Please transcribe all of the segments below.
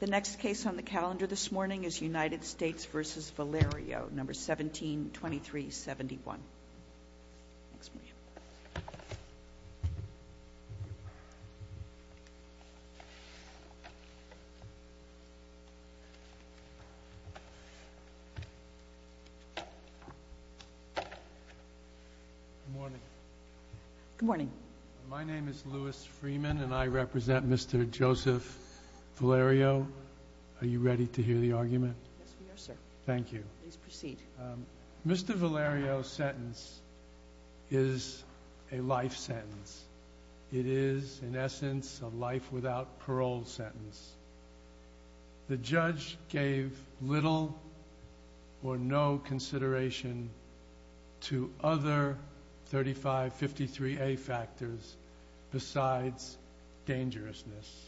The next case on the calendar this morning is United States v. Valerio, No. 17-2371. Good morning. Good morning. My name is Louis Freeman, and I represent Mr. Joseph Valerio. Are you ready to hear the argument? Yes, we are, sir. Thank you. Please proceed. Mr. Valerio's sentence is a life sentence. It is, in essence, a life without parole sentence. The judge gave little or no consideration to other 3553A factors besides dangerousness.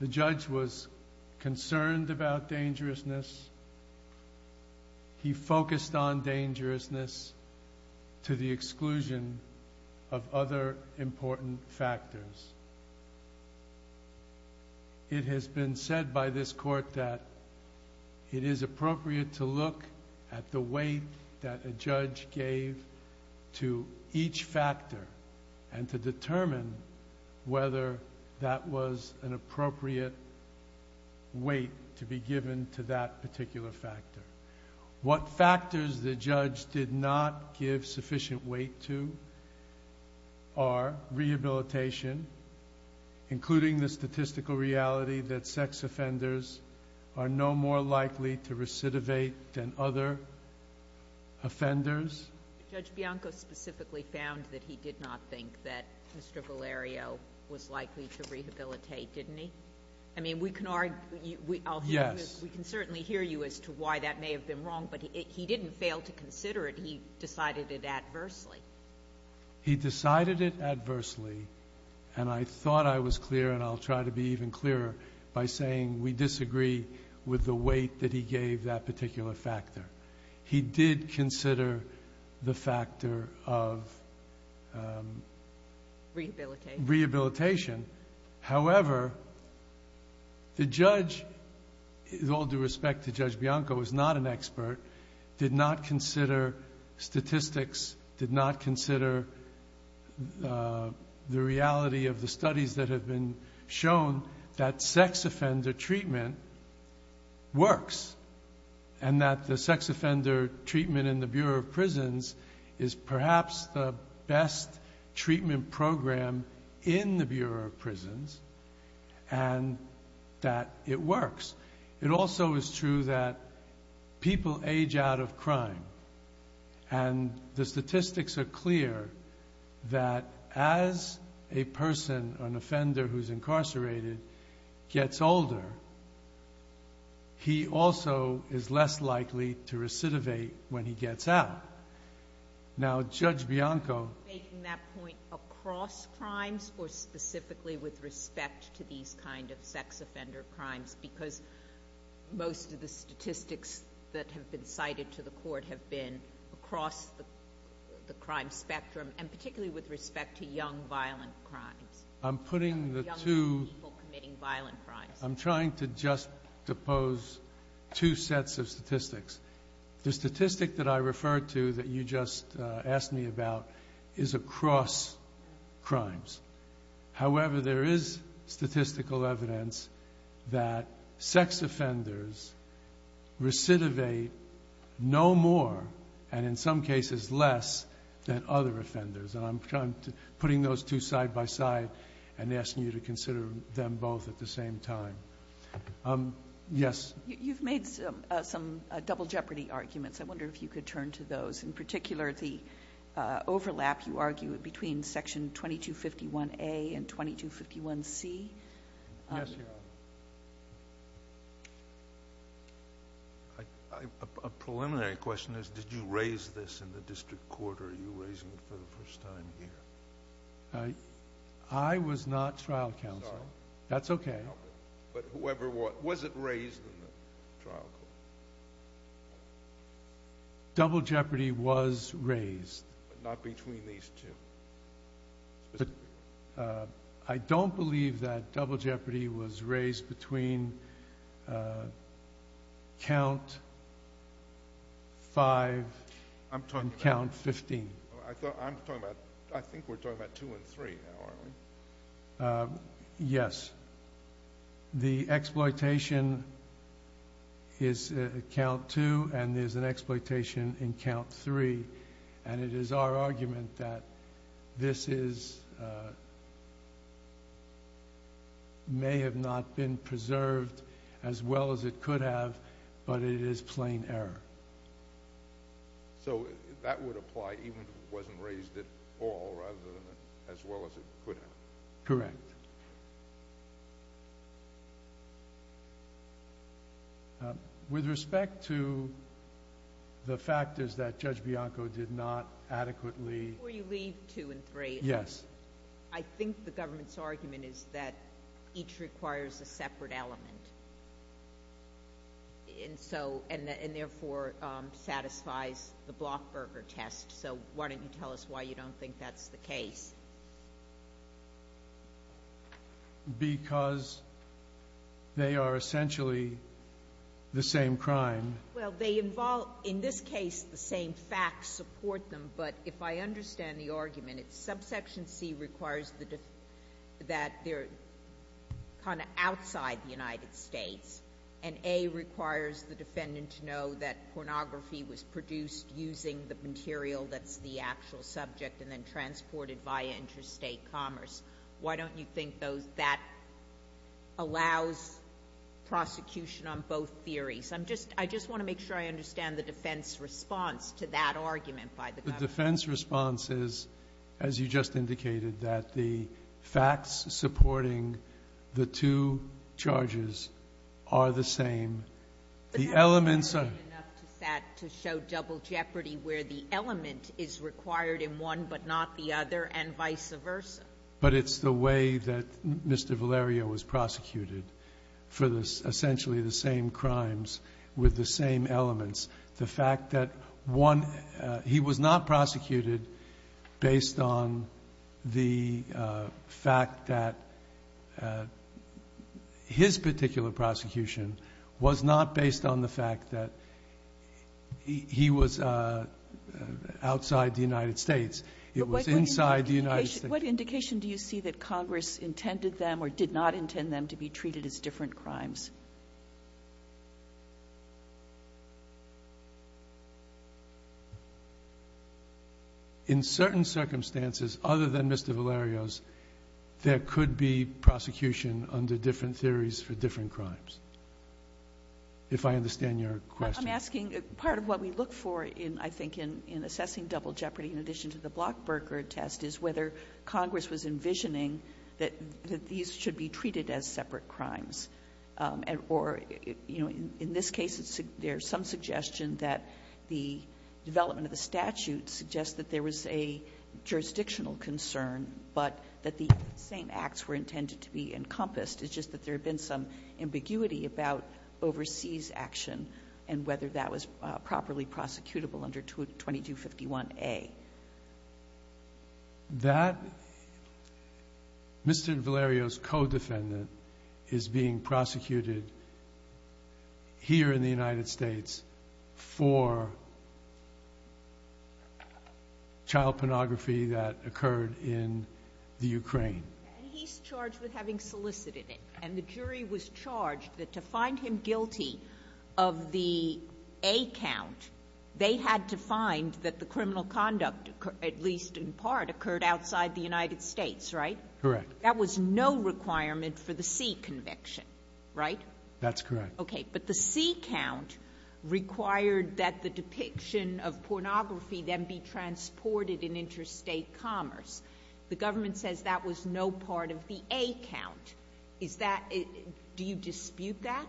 The judge was concerned about dangerousness. He focused on dangerousness to the exclusion of other important factors. It has been said by this Court that it is appropriate to look at the weight that a judge gave to each factor and to determine whether that was an appropriate weight to be given to that particular factor. What factors the judge did not give sufficient weight to are rehabilitation, including the statistical reality that sex offenders are no more likely to recidivate than other offenders. Judge Bianco specifically found that he did not think that Mr. Valerio was likely to rehabilitate, didn't he? I mean, we can argue— Yes. We can certainly hear you as to why that may have been wrong, but he didn't fail to consider it. He decided it adversely. He decided it adversely, and I thought I was clear, and I'll try to be even clearer, by saying we disagree with the weight that he gave that particular factor. He did consider the factor of— Rehabilitation. Rehabilitation. However, the judge, with all due respect to Judge Bianco, is not an expert, did not consider statistics, did not consider the reality of the studies that have been shown that sex offender treatment works and that the sex offender treatment in the Bureau of Prisons is perhaps the best treatment program in the Bureau of Prisons and that it works. It also is true that people age out of crime, and the statistics are clear that as a person, an offender who's incarcerated, gets older, he also is less likely to recidivate when he gets out. Now, Judge Bianco— Making that point across crimes or specifically with respect to these kind of sex offender crimes because most of the statistics that have been cited to the Court have been across the crime spectrum and particularly with respect to young violent crimes. I'm putting the two— Young people committing violent crimes. I'm trying to juxtapose two sets of statistics. The statistic that I referred to that you just asked me about is across crimes. However, there is statistical evidence that sex offenders recidivate no more and in some cases less than other offenders. And I'm trying to—putting those two side by side and asking you to consider them both at the same time. Yes? You've made some double jeopardy arguments. I wonder if you could turn to those. In particular, the overlap, you argue, between Section 2251A and 2251C. Yes, Your Honor. A preliminary question is did you raise this in the district court or are you raising it for the first time here? I was not trial counsel. I'm sorry. That's okay. But whoever—was it raised in the trial court? Double jeopardy was raised. But not between these two? I don't believe that double jeopardy was raised between Count 5 and Count 15. I'm talking about—I think we're talking about 2 and 3 now, aren't we? Yes. The exploitation is Count 2 and there's an exploitation in Count 3. And it is our argument that this is—may have not been preserved as well as it could have, but it is plain error. So that would apply even if it wasn't raised at all rather than as well as it could have? Correct. With respect to the factors that Judge Bianco did not adequately— Before you leave 2 and 3— Yes. I think the government's argument is that each requires a separate element and therefore satisfies the Blockburger test. So why don't you tell us why you don't think that's the case? Because they are essentially the same crime. Well, they involve—in this case, the same facts support them. But if I understand the argument, it's subsection C requires that they're kind of outside the United States and A requires the defendant to know that pornography was produced using the material that's the actual subject and then transported via interstate commerce. Why don't you think that allows prosecution on both theories? I just want to make sure I understand the defense response to that argument by the government. The defense response is, as you just indicated, that the facts supporting the two charges are the same. The elements are— It's enough to show double jeopardy where the element is required in one but not the other and vice versa. But it's the way that Mr. Valerio was prosecuted for essentially the same crimes with the same elements. The fact that one—he was not prosecuted based on the fact that his particular prosecution was not based on the fact that he was outside the United States. It was inside the United States. What indication do you see that Congress intended them or did not intend them to be treated as different crimes? In certain circumstances, other than Mr. Valerio's, there could be prosecution under different theories for different crimes, if I understand your question. I'm asking—part of what we look for, I think, in assessing double jeopardy in addition to the Blockberger test is whether Congress was envisioning that these should be treated as separate crimes. Or, you know, in this case, there's some suggestion that the development of the statute suggests that there was a jurisdictional concern, but that the same acts were intended to be encompassed. It's just that there had been some ambiguity about overseas action and whether that was properly prosecutable under 2251a. That—Mr. Valerio's co-defendant is being prosecuted here in the United States for child pornography that occurred in the Ukraine. And he's charged with having solicited it. And the jury was charged that to find him guilty of the A count, they had to find that the criminal conduct, at least in part, occurred outside the United States, right? Correct. That was no requirement for the C conviction, right? That's correct. Okay. But the C count required that the depiction of pornography then be transported in interstate commerce. The government says that was no part of the A count. Is that—do you dispute that?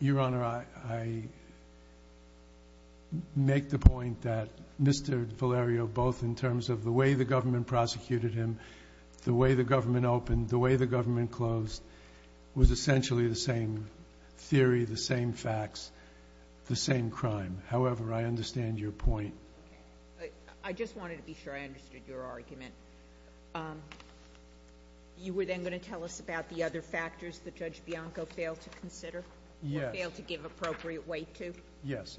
Your Honor, I make the point that Mr. Valerio, both in terms of the way the government prosecuted him, the way the government opened, the way the government closed, was essentially the same theory, the same facts, the same crime. However, I understand your point. Okay. I just wanted to be sure I understood your argument. You were then going to tell us about the other factors that Judge Bianco failed to consider? Yes. Or failed to give appropriate weight to? Yes.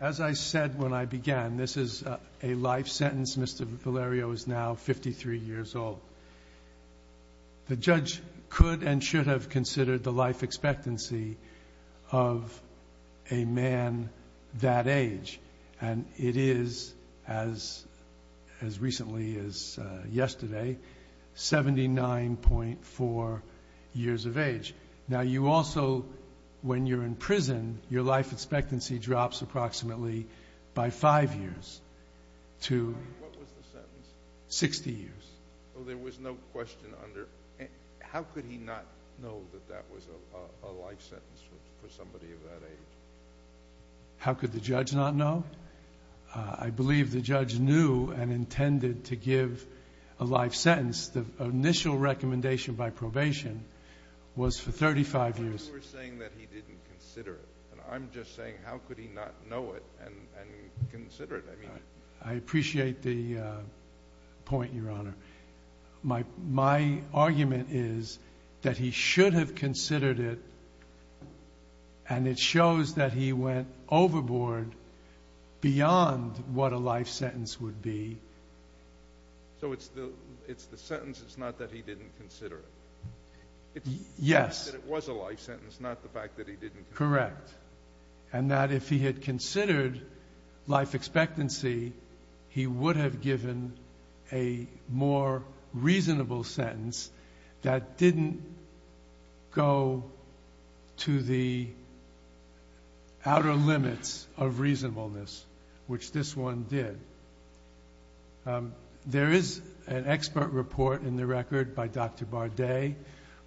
As I said when I began, this is a life sentence. Mr. Valerio is now 53 years old. The judge could and should have considered the life expectancy of a man that age. And it is, as recently as yesterday, 79.4 years of age. Now, you also, when you're in prison, your life expectancy drops approximately by five years to— What was the sentence? 60 years. So there was no question under. How could he not know that that was a life sentence for somebody of that age? How could the judge not know? I believe the judge knew and intended to give a life sentence. The initial recommendation by probation was for 35 years. But you were saying that he didn't consider it. And I'm just saying how could he not know it and consider it? I mean— I appreciate the point, Your Honor. My argument is that he should have considered it, and it shows that he went overboard beyond what a life sentence would be. So it's the sentence. It's not that he didn't consider it. Yes. It's the fact that it was a life sentence, not the fact that he didn't consider it. Correct. And that if he had considered life expectancy, he would have given a more reasonable sentence that didn't go to the outer limits of reasonableness, which this one did. There is an expert report in the record by Dr. Bardet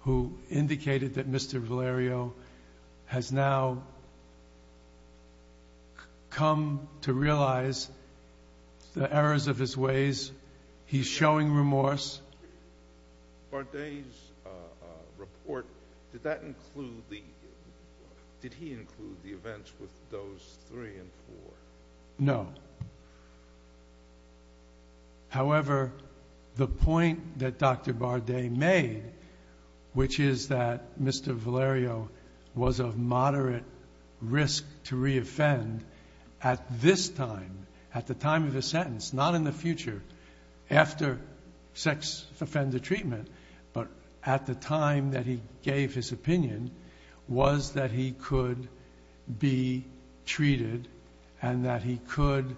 who indicated that Mr. Valerio has now come to realize the errors of his ways. He's showing remorse. Bardet's report, did that include the—did he include the events with those three and four? No. However, the point that Dr. Bardet made, which is that Mr. Valerio was of moderate risk to reoffend at this time, at the time of his sentence, not in the future, after sex offender treatment, but at the time that he gave his opinion, was that he could be treated and that he could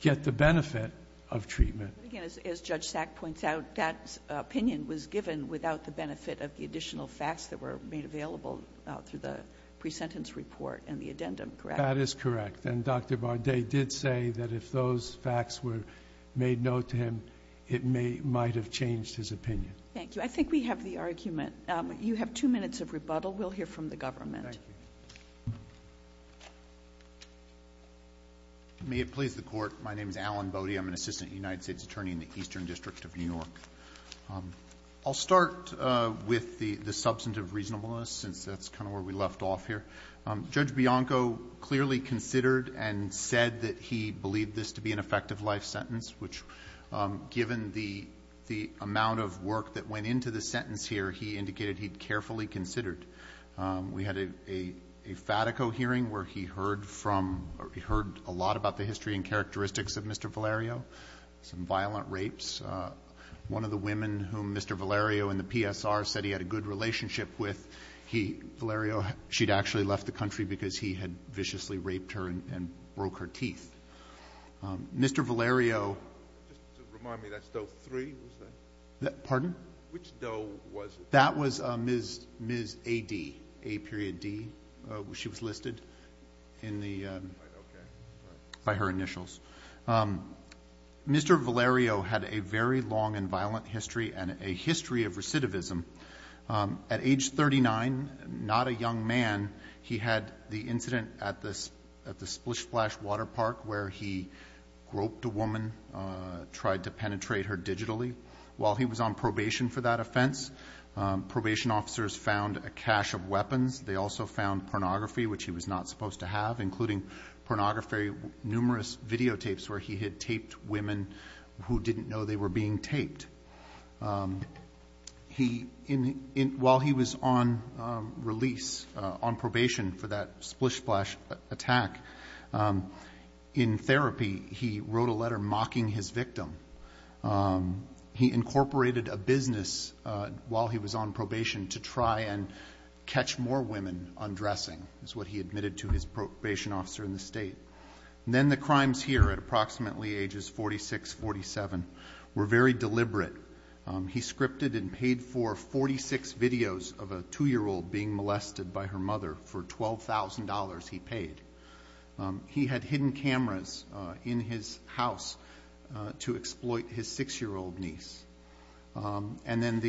get the benefit of treatment. But again, as Judge Sack points out, that opinion was given without the benefit of the additional facts that were made available through the pre-sentence report and the addendum, correct? That is correct. And Dr. Bardet did say that if those facts were made known to him, it might have changed his opinion. Thank you. I think we have the argument. You have two minutes of rebuttal. We'll hear from the government. Thank you. May it please the Court. My name is Alan Boddy. I'm an assistant United States attorney in the Eastern District of New York. I'll start with the substantive reasonableness, since that's kind of where we left off here. Judge Bianco clearly considered and said that he believed this to be an effective life sentence, which given the amount of work that went into the sentence here, he indicated he'd carefully considered. We had a Fatico hearing where he heard from or he heard a lot about the history and characteristics of Mr. Valerio, some violent rapes. One of the women whom Mr. Valerio in the PSR said he had a good relationship with, Valerio, she'd actually left the country because he had viciously raped her and broke her teeth. Mr. Valerio ---- Just to remind me, that's Doe 3, was that? Pardon? Which Doe was it? That was Ms. A.D., A.D. She was listed in the ---- All right. Okay. By her initials. Mr. Valerio had a very long and violent history and a history of recidivism. At age 39, not a young man, he had the incident at the Splish Splash water park where he groped a woman, tried to penetrate her digitally. While he was on probation for that offense, probation officers found a cache of weapons. They also found pornography, which he was not supposed to have, including pornography, numerous videotapes where he had taped women who didn't know they were being taped. While he was on release, on probation for that Splish Splash attack, in therapy he wrote a letter mocking his victim. He incorporated a business while he was on probation to try and catch more women undressing, is what he admitted to his probation officer in the state. Then the crimes here at approximately ages 46, 47 were very deliberate. He scripted and paid for 46 videos of a 2-year-old being molested by her mother for $12,000 he paid. He had hidden cameras in his house to exploit his 6-year-old niece. And then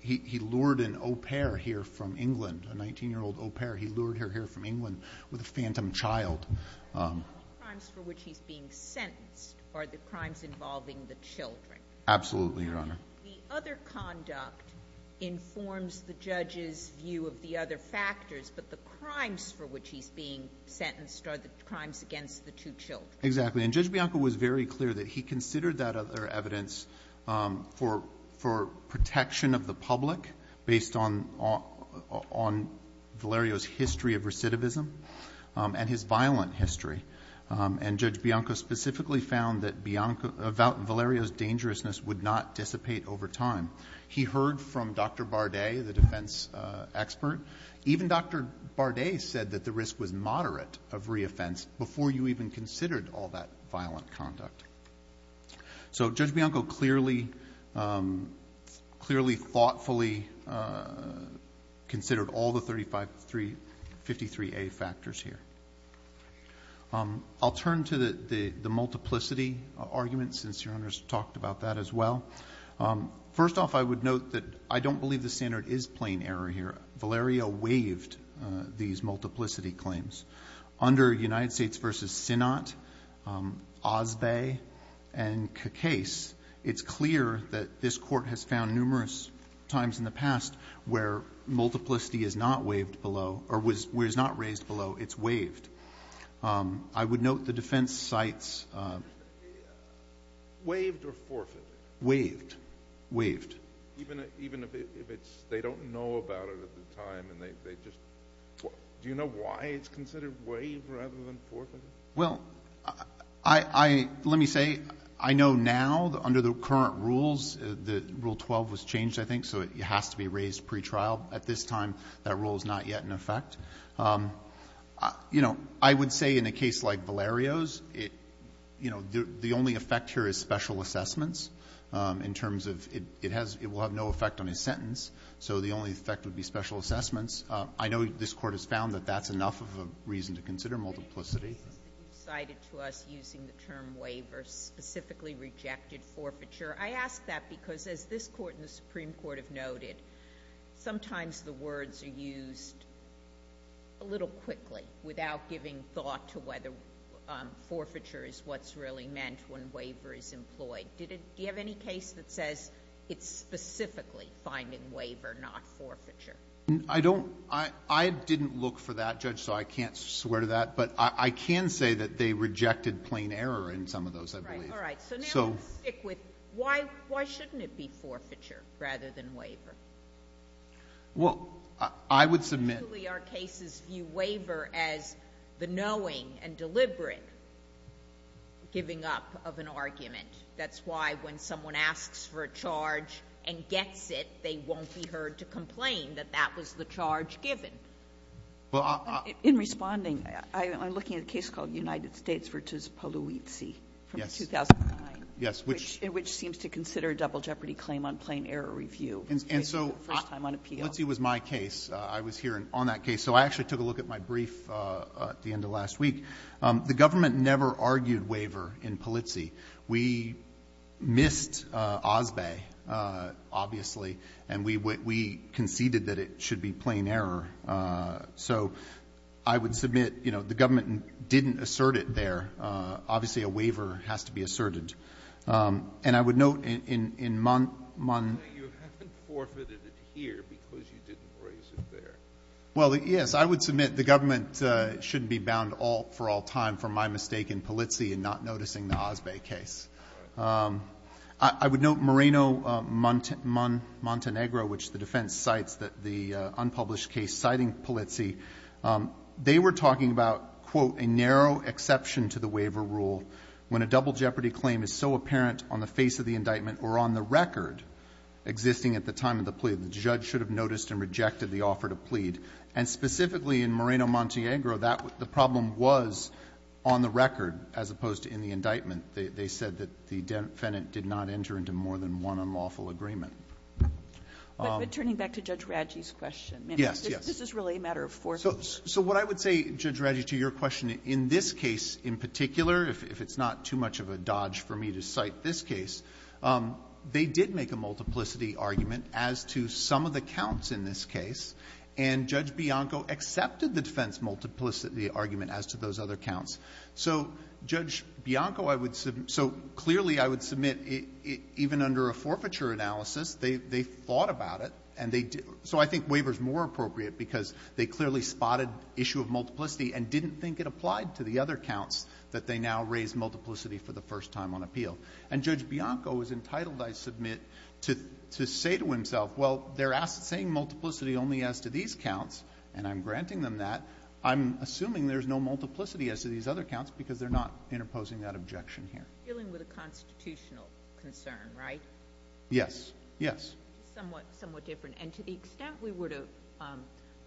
he lured an au pair here from England, a 19-year-old au pair. He lured her here from England with a phantom child. The crimes for which he's being sentenced are the crimes involving the children. Absolutely, Your Honor. The other conduct informs the judge's view of the other factors, but the crimes for which he's being sentenced are the crimes against the two children. Exactly. And Judge Bianco was very clear that he considered that other evidence for protection of the public based on Valerio's history of recidivism and his violent history. And Judge Bianco specifically found that Valerio's dangerousness would not dissipate over time. He heard from Dr. Bardet, the defense expert. Even Dr. Bardet said that the risk was moderate of reoffense before you even considered all that violent conduct. So Judge Bianco clearly thoughtfully considered all the 353A factors here. I'll turn to the multiplicity argument since Your Honor's talked about that as well. First off, I would note that I don't believe the standard is plain error here. Valerio waived these multiplicity claims. Under United States v. Synnot, Osbay, and Cacase, it's clear that this court has found numerous times in the past where multiplicity is not raised below. It's waived. I would note the defense cites— Waived or forfeited? Waived. Waived. Even if they don't know about it at the time and they just— Do you know why it's considered waived rather than forfeited? Well, let me say, I know now under the current rules, Rule 12 was changed, I think, so it has to be raised pretrial. At this time, that rule is not yet in effect. I would say in a case like Valerio's, the only effect here is special assessments in terms of it will have no effect on his sentence, so the only effect would be special assessments. I know this court has found that that's enough of a reason to consider multiplicity. You cited to us using the term waiver specifically rejected forfeiture. I ask that because, as this Court and the Supreme Court have noted, sometimes the words are used a little quickly without giving thought to whether forfeiture is what's really meant when waiver is employed. Do you have any case that says it's specifically finding waiver, not forfeiture? I don't—I didn't look for that, Judge, so I can't swear to that, but I can say that they rejected plain error in some of those, I believe. All right, so now let's stick with why shouldn't it be forfeiture rather than waiver? Well, I would submit— Usually our cases view waiver as the knowing and deliberate giving up of an argument. That's why when someone asks for a charge and gets it, they won't be heard to complain that that was the charge given. Well, I— In responding, I'm looking at a case called United States v. Polizzi from 2009. Yes. Which seems to consider a double jeopardy claim on plain error review. And so— First time on appeal. Polizzi was my case. I was here on that case. So I actually took a look at my brief at the end of last week. The government never argued waiver in Polizzi. We missed Osbay, obviously, and we conceded that it should be plain error. So I would submit, you know, the government didn't assert it there. Obviously a waiver has to be asserted. And I would note in— You haven't forfeited it here because you didn't raise it there. Well, yes, I would submit the government shouldn't be bound for all time for my mistake in Polizzi and not noticing the Osbay case. I would note Moreno-Montenegro, which the defense cites that the unpublished case citing Polizzi, they were talking about, quote, a narrow exception to the waiver rule when a double jeopardy claim is so apparent on the face of the indictment or on the record existing at the time of the plea. And specifically in Moreno-Montenegro, that was the problem was on the record as opposed to in the indictment. They said that the defendant did not enter into more than one unlawful agreement. But turning back to Judge Radji's question. Yes, yes. This is really a matter of forethought. So what I would say, Judge Radji, to your question, in this case in particular, if it's not too much of a dodge for me to cite this case, they did make a multiplicity argument as to some of the counts in this case. And Judge Bianco accepted the defense multiplicity argument as to those other counts. So Judge Bianco, I would so clearly I would submit even under a forfeiture analysis, they thought about it and they did. So I think waiver is more appropriate because they clearly spotted issue of multiplicity and didn't think it applied to the other counts that they now raised multiplicity for the first time on appeal. And Judge Bianco is entitled, I submit, to say to himself, well, they're saying multiplicity only as to these counts, and I'm granting them that. I'm assuming there's no multiplicity as to these other counts because they're not interposing that objection here. Dealing with a constitutional concern, right? Yes. Yes. Somewhat different. And to the extent we were to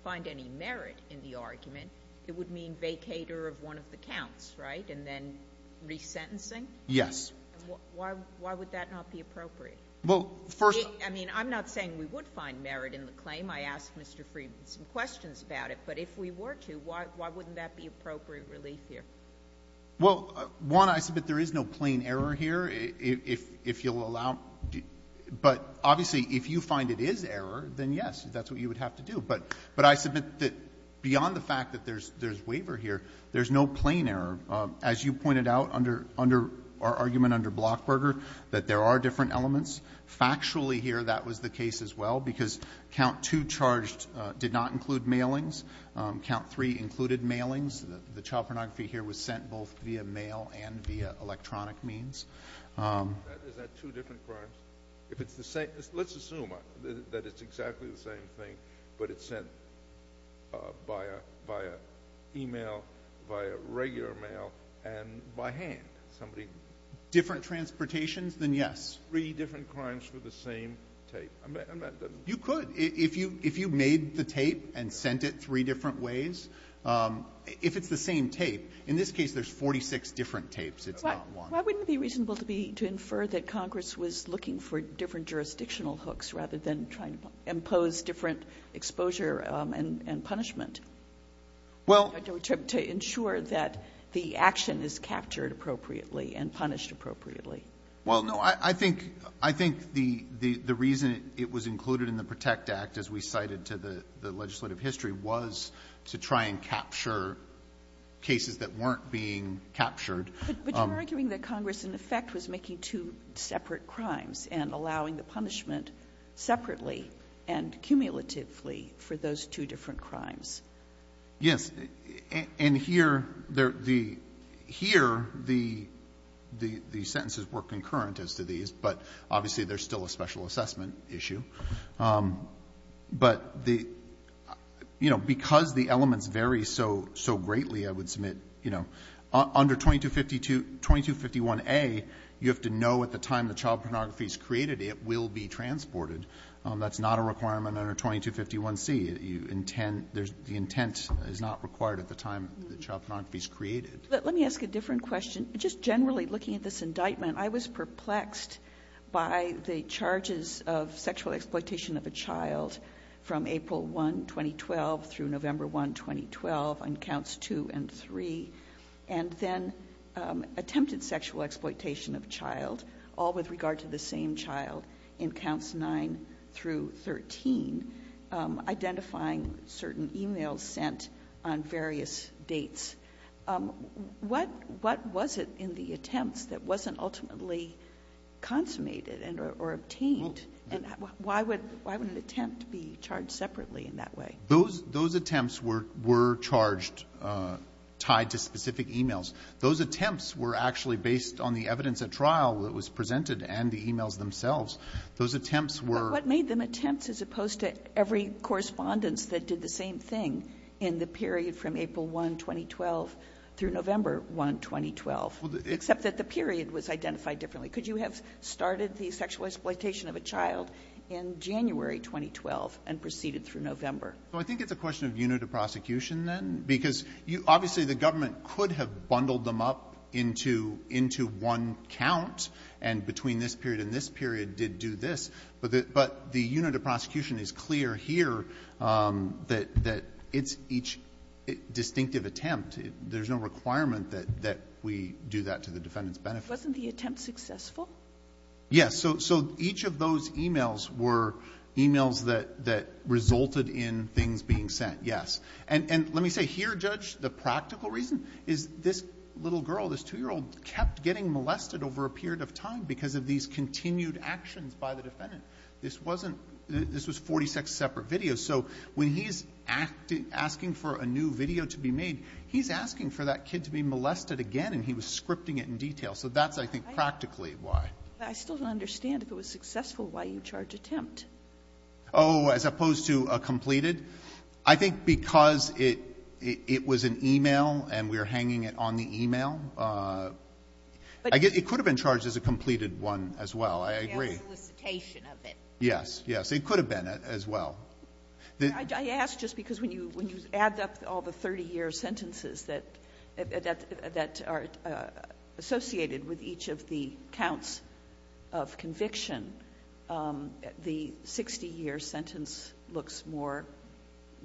find any merit in the argument, it would mean vacater of one of the counts, right, and then resentencing? Yes. Why would that not be appropriate? Well, first of all — I mean, I'm not saying we would find merit in the claim. I asked Mr. Friedman some questions about it. But if we were to, why wouldn't that be appropriate relief here? Well, one, I submit there is no plain error here. If you'll allow — but obviously if you find it is error, then yes, that's what you would have to do. But I submit that beyond the fact that there's waiver here, there's no plain error. As you pointed out under our argument under Blockberger, that there are different elements. Factually here, that was the case as well, because Count 2 charged did not include mailings. Count 3 included mailings. The child pornography here was sent both via mail and via electronic means. Is that two different crimes? If it's the same — let's assume that it's exactly the same thing, but it's sent by a — via e-mail, via regular mail, and by hand, somebody — Different transportations, then yes. Three different crimes for the same tape. You could. If you made the tape and sent it three different ways, if it's the same tape. In this case, there's 46 different tapes. It's not one. Why wouldn't it be reasonable to be — to infer that Congress was looking for different cases and punishment? Well — To ensure that the action is captured appropriately and punished appropriately. Well, no, I think — I think the reason it was included in the PROTECT Act, as we cited to the legislative history, was to try and capture cases that weren't being captured. But you're arguing that Congress, in effect, was making two separate crimes and for those two different crimes. Yes. And here, the — here, the sentences were concurrent as to these, but obviously there's still a special assessment issue. But the — you know, because the elements vary so — so greatly, I would submit, you know, under 2252 — 2251a, you have to know at the time the child pornography is created, it will be transported. That's not a requirement under 2251c. You intend — the intent is not required at the time the child pornography is created. But let me ask a different question. Just generally, looking at this indictment, I was perplexed by the charges of sexual exploitation of a child from April 1, 2012, through November 1, 2012, on counts 2 and 3, and then attempted sexual exploitation of a child, all with regard to the same child, in counts 9 through 13, identifying certain e-mails sent on various dates. What — what was it in the attempts that wasn't ultimately consummated and — or obtained? And why would — why would an attempt be charged separately in that way? Those — those attempts were — were charged tied to specific e-mails. Those attempts were actually based on the evidence at trial that was presented and the e-mails themselves. Those attempts were — But what made them attempts, as opposed to every correspondence that did the same thing in the period from April 1, 2012, through November 1, 2012, except that the period was identified differently? Could you have started the sexual exploitation of a child in January 2012 and proceeded through November? Well, I think it's a question of unit of prosecution, then, because you — obviously, the government could have bundled them up into — into one count, and between this period and this period did do this. But the — but the unit of prosecution is clear here that — that it's each distinctive attempt. There's no requirement that — that we do that to the defendant's benefit. Wasn't the attempt successful? Yes. So — so each of those e-mails were e-mails that — that resulted in things being And let me say, here, Judge, the practical reason is this little girl, this 2-year-old kept getting molested over a period of time because of these continued actions by the defendant. This wasn't — this was 46 separate videos. So when he's acting — asking for a new video to be made, he's asking for that kid to be molested again, and he was scripting it in detail. So that's, I think, practically why. I still don't understand, if it was successful, why you charge attempt. Oh, as opposed to a completed? I think because it — it was an e-mail, and we're hanging it on the e-mail. I guess it could have been charged as a completed one as well. I agree. Yeah, solicitation of it. Yes. Yes. It could have been as well. I ask just because when you — when you add up all the 30-year sentences that — 60-year sentence looks more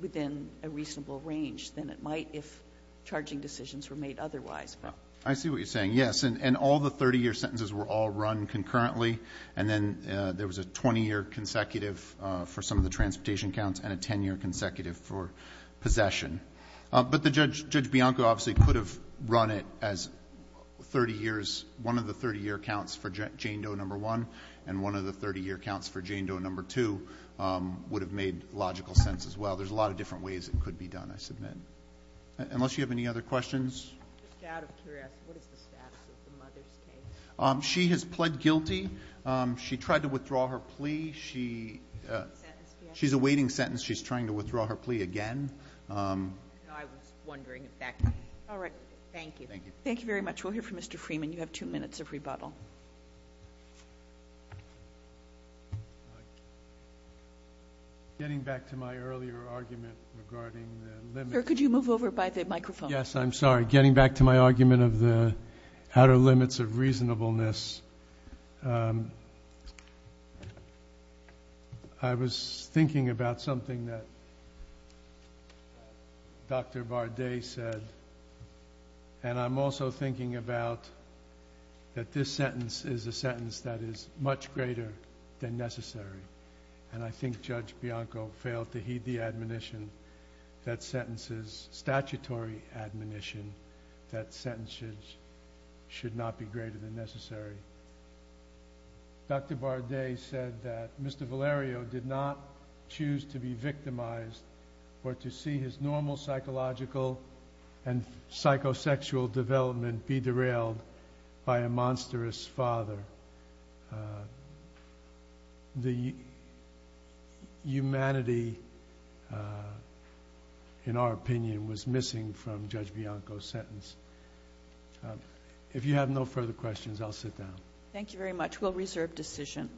within a reasonable range than it might if charging decisions were made otherwise. I see what you're saying. Yes. And all the 30-year sentences were all run concurrently, and then there was a 20-year consecutive for some of the transportation counts and a 10-year consecutive for possession. But the judge — Judge Bianco obviously could have run it as 30 years — one of the 30-year counts for Jane Doe No. 1 and one of the 30-year counts for Jane Doe No. 2 would have made logical sense as well. There's a lot of different ways it could be done, I submit. Unless you have any other questions? Just out of curiosity, what is the status of the mother's case? She has pled guilty. She tried to withdraw her plea. She — Sentence, yes. She's awaiting sentence. She's trying to withdraw her plea again. I was wondering if that — all right. Thank you. Thank you. Thank you very much. We'll hear from Mr. Freeman. You have two minutes of rebuttal. Getting back to my earlier argument regarding the limits — Sir, could you move over by the microphone? Yes, I'm sorry. Getting back to my argument of the outer limits of reasonableness, I was thinking about something that Dr. Bardet said, and I'm also thinking about that this sentence is a sentence that is much greater than necessary. And I think Judge Bianco failed to heed the admonition that sentences — statutory admonition that sentences should not be greater than necessary. Dr. Bardet said that Mr. Valerio did not choose to be victimized or to see his psychosexual development be derailed by a monstrous father. The humanity, in our opinion, was missing from Judge Bianco's sentence. If you have no further questions, I'll sit down. Thank you very much. We'll reserve decision.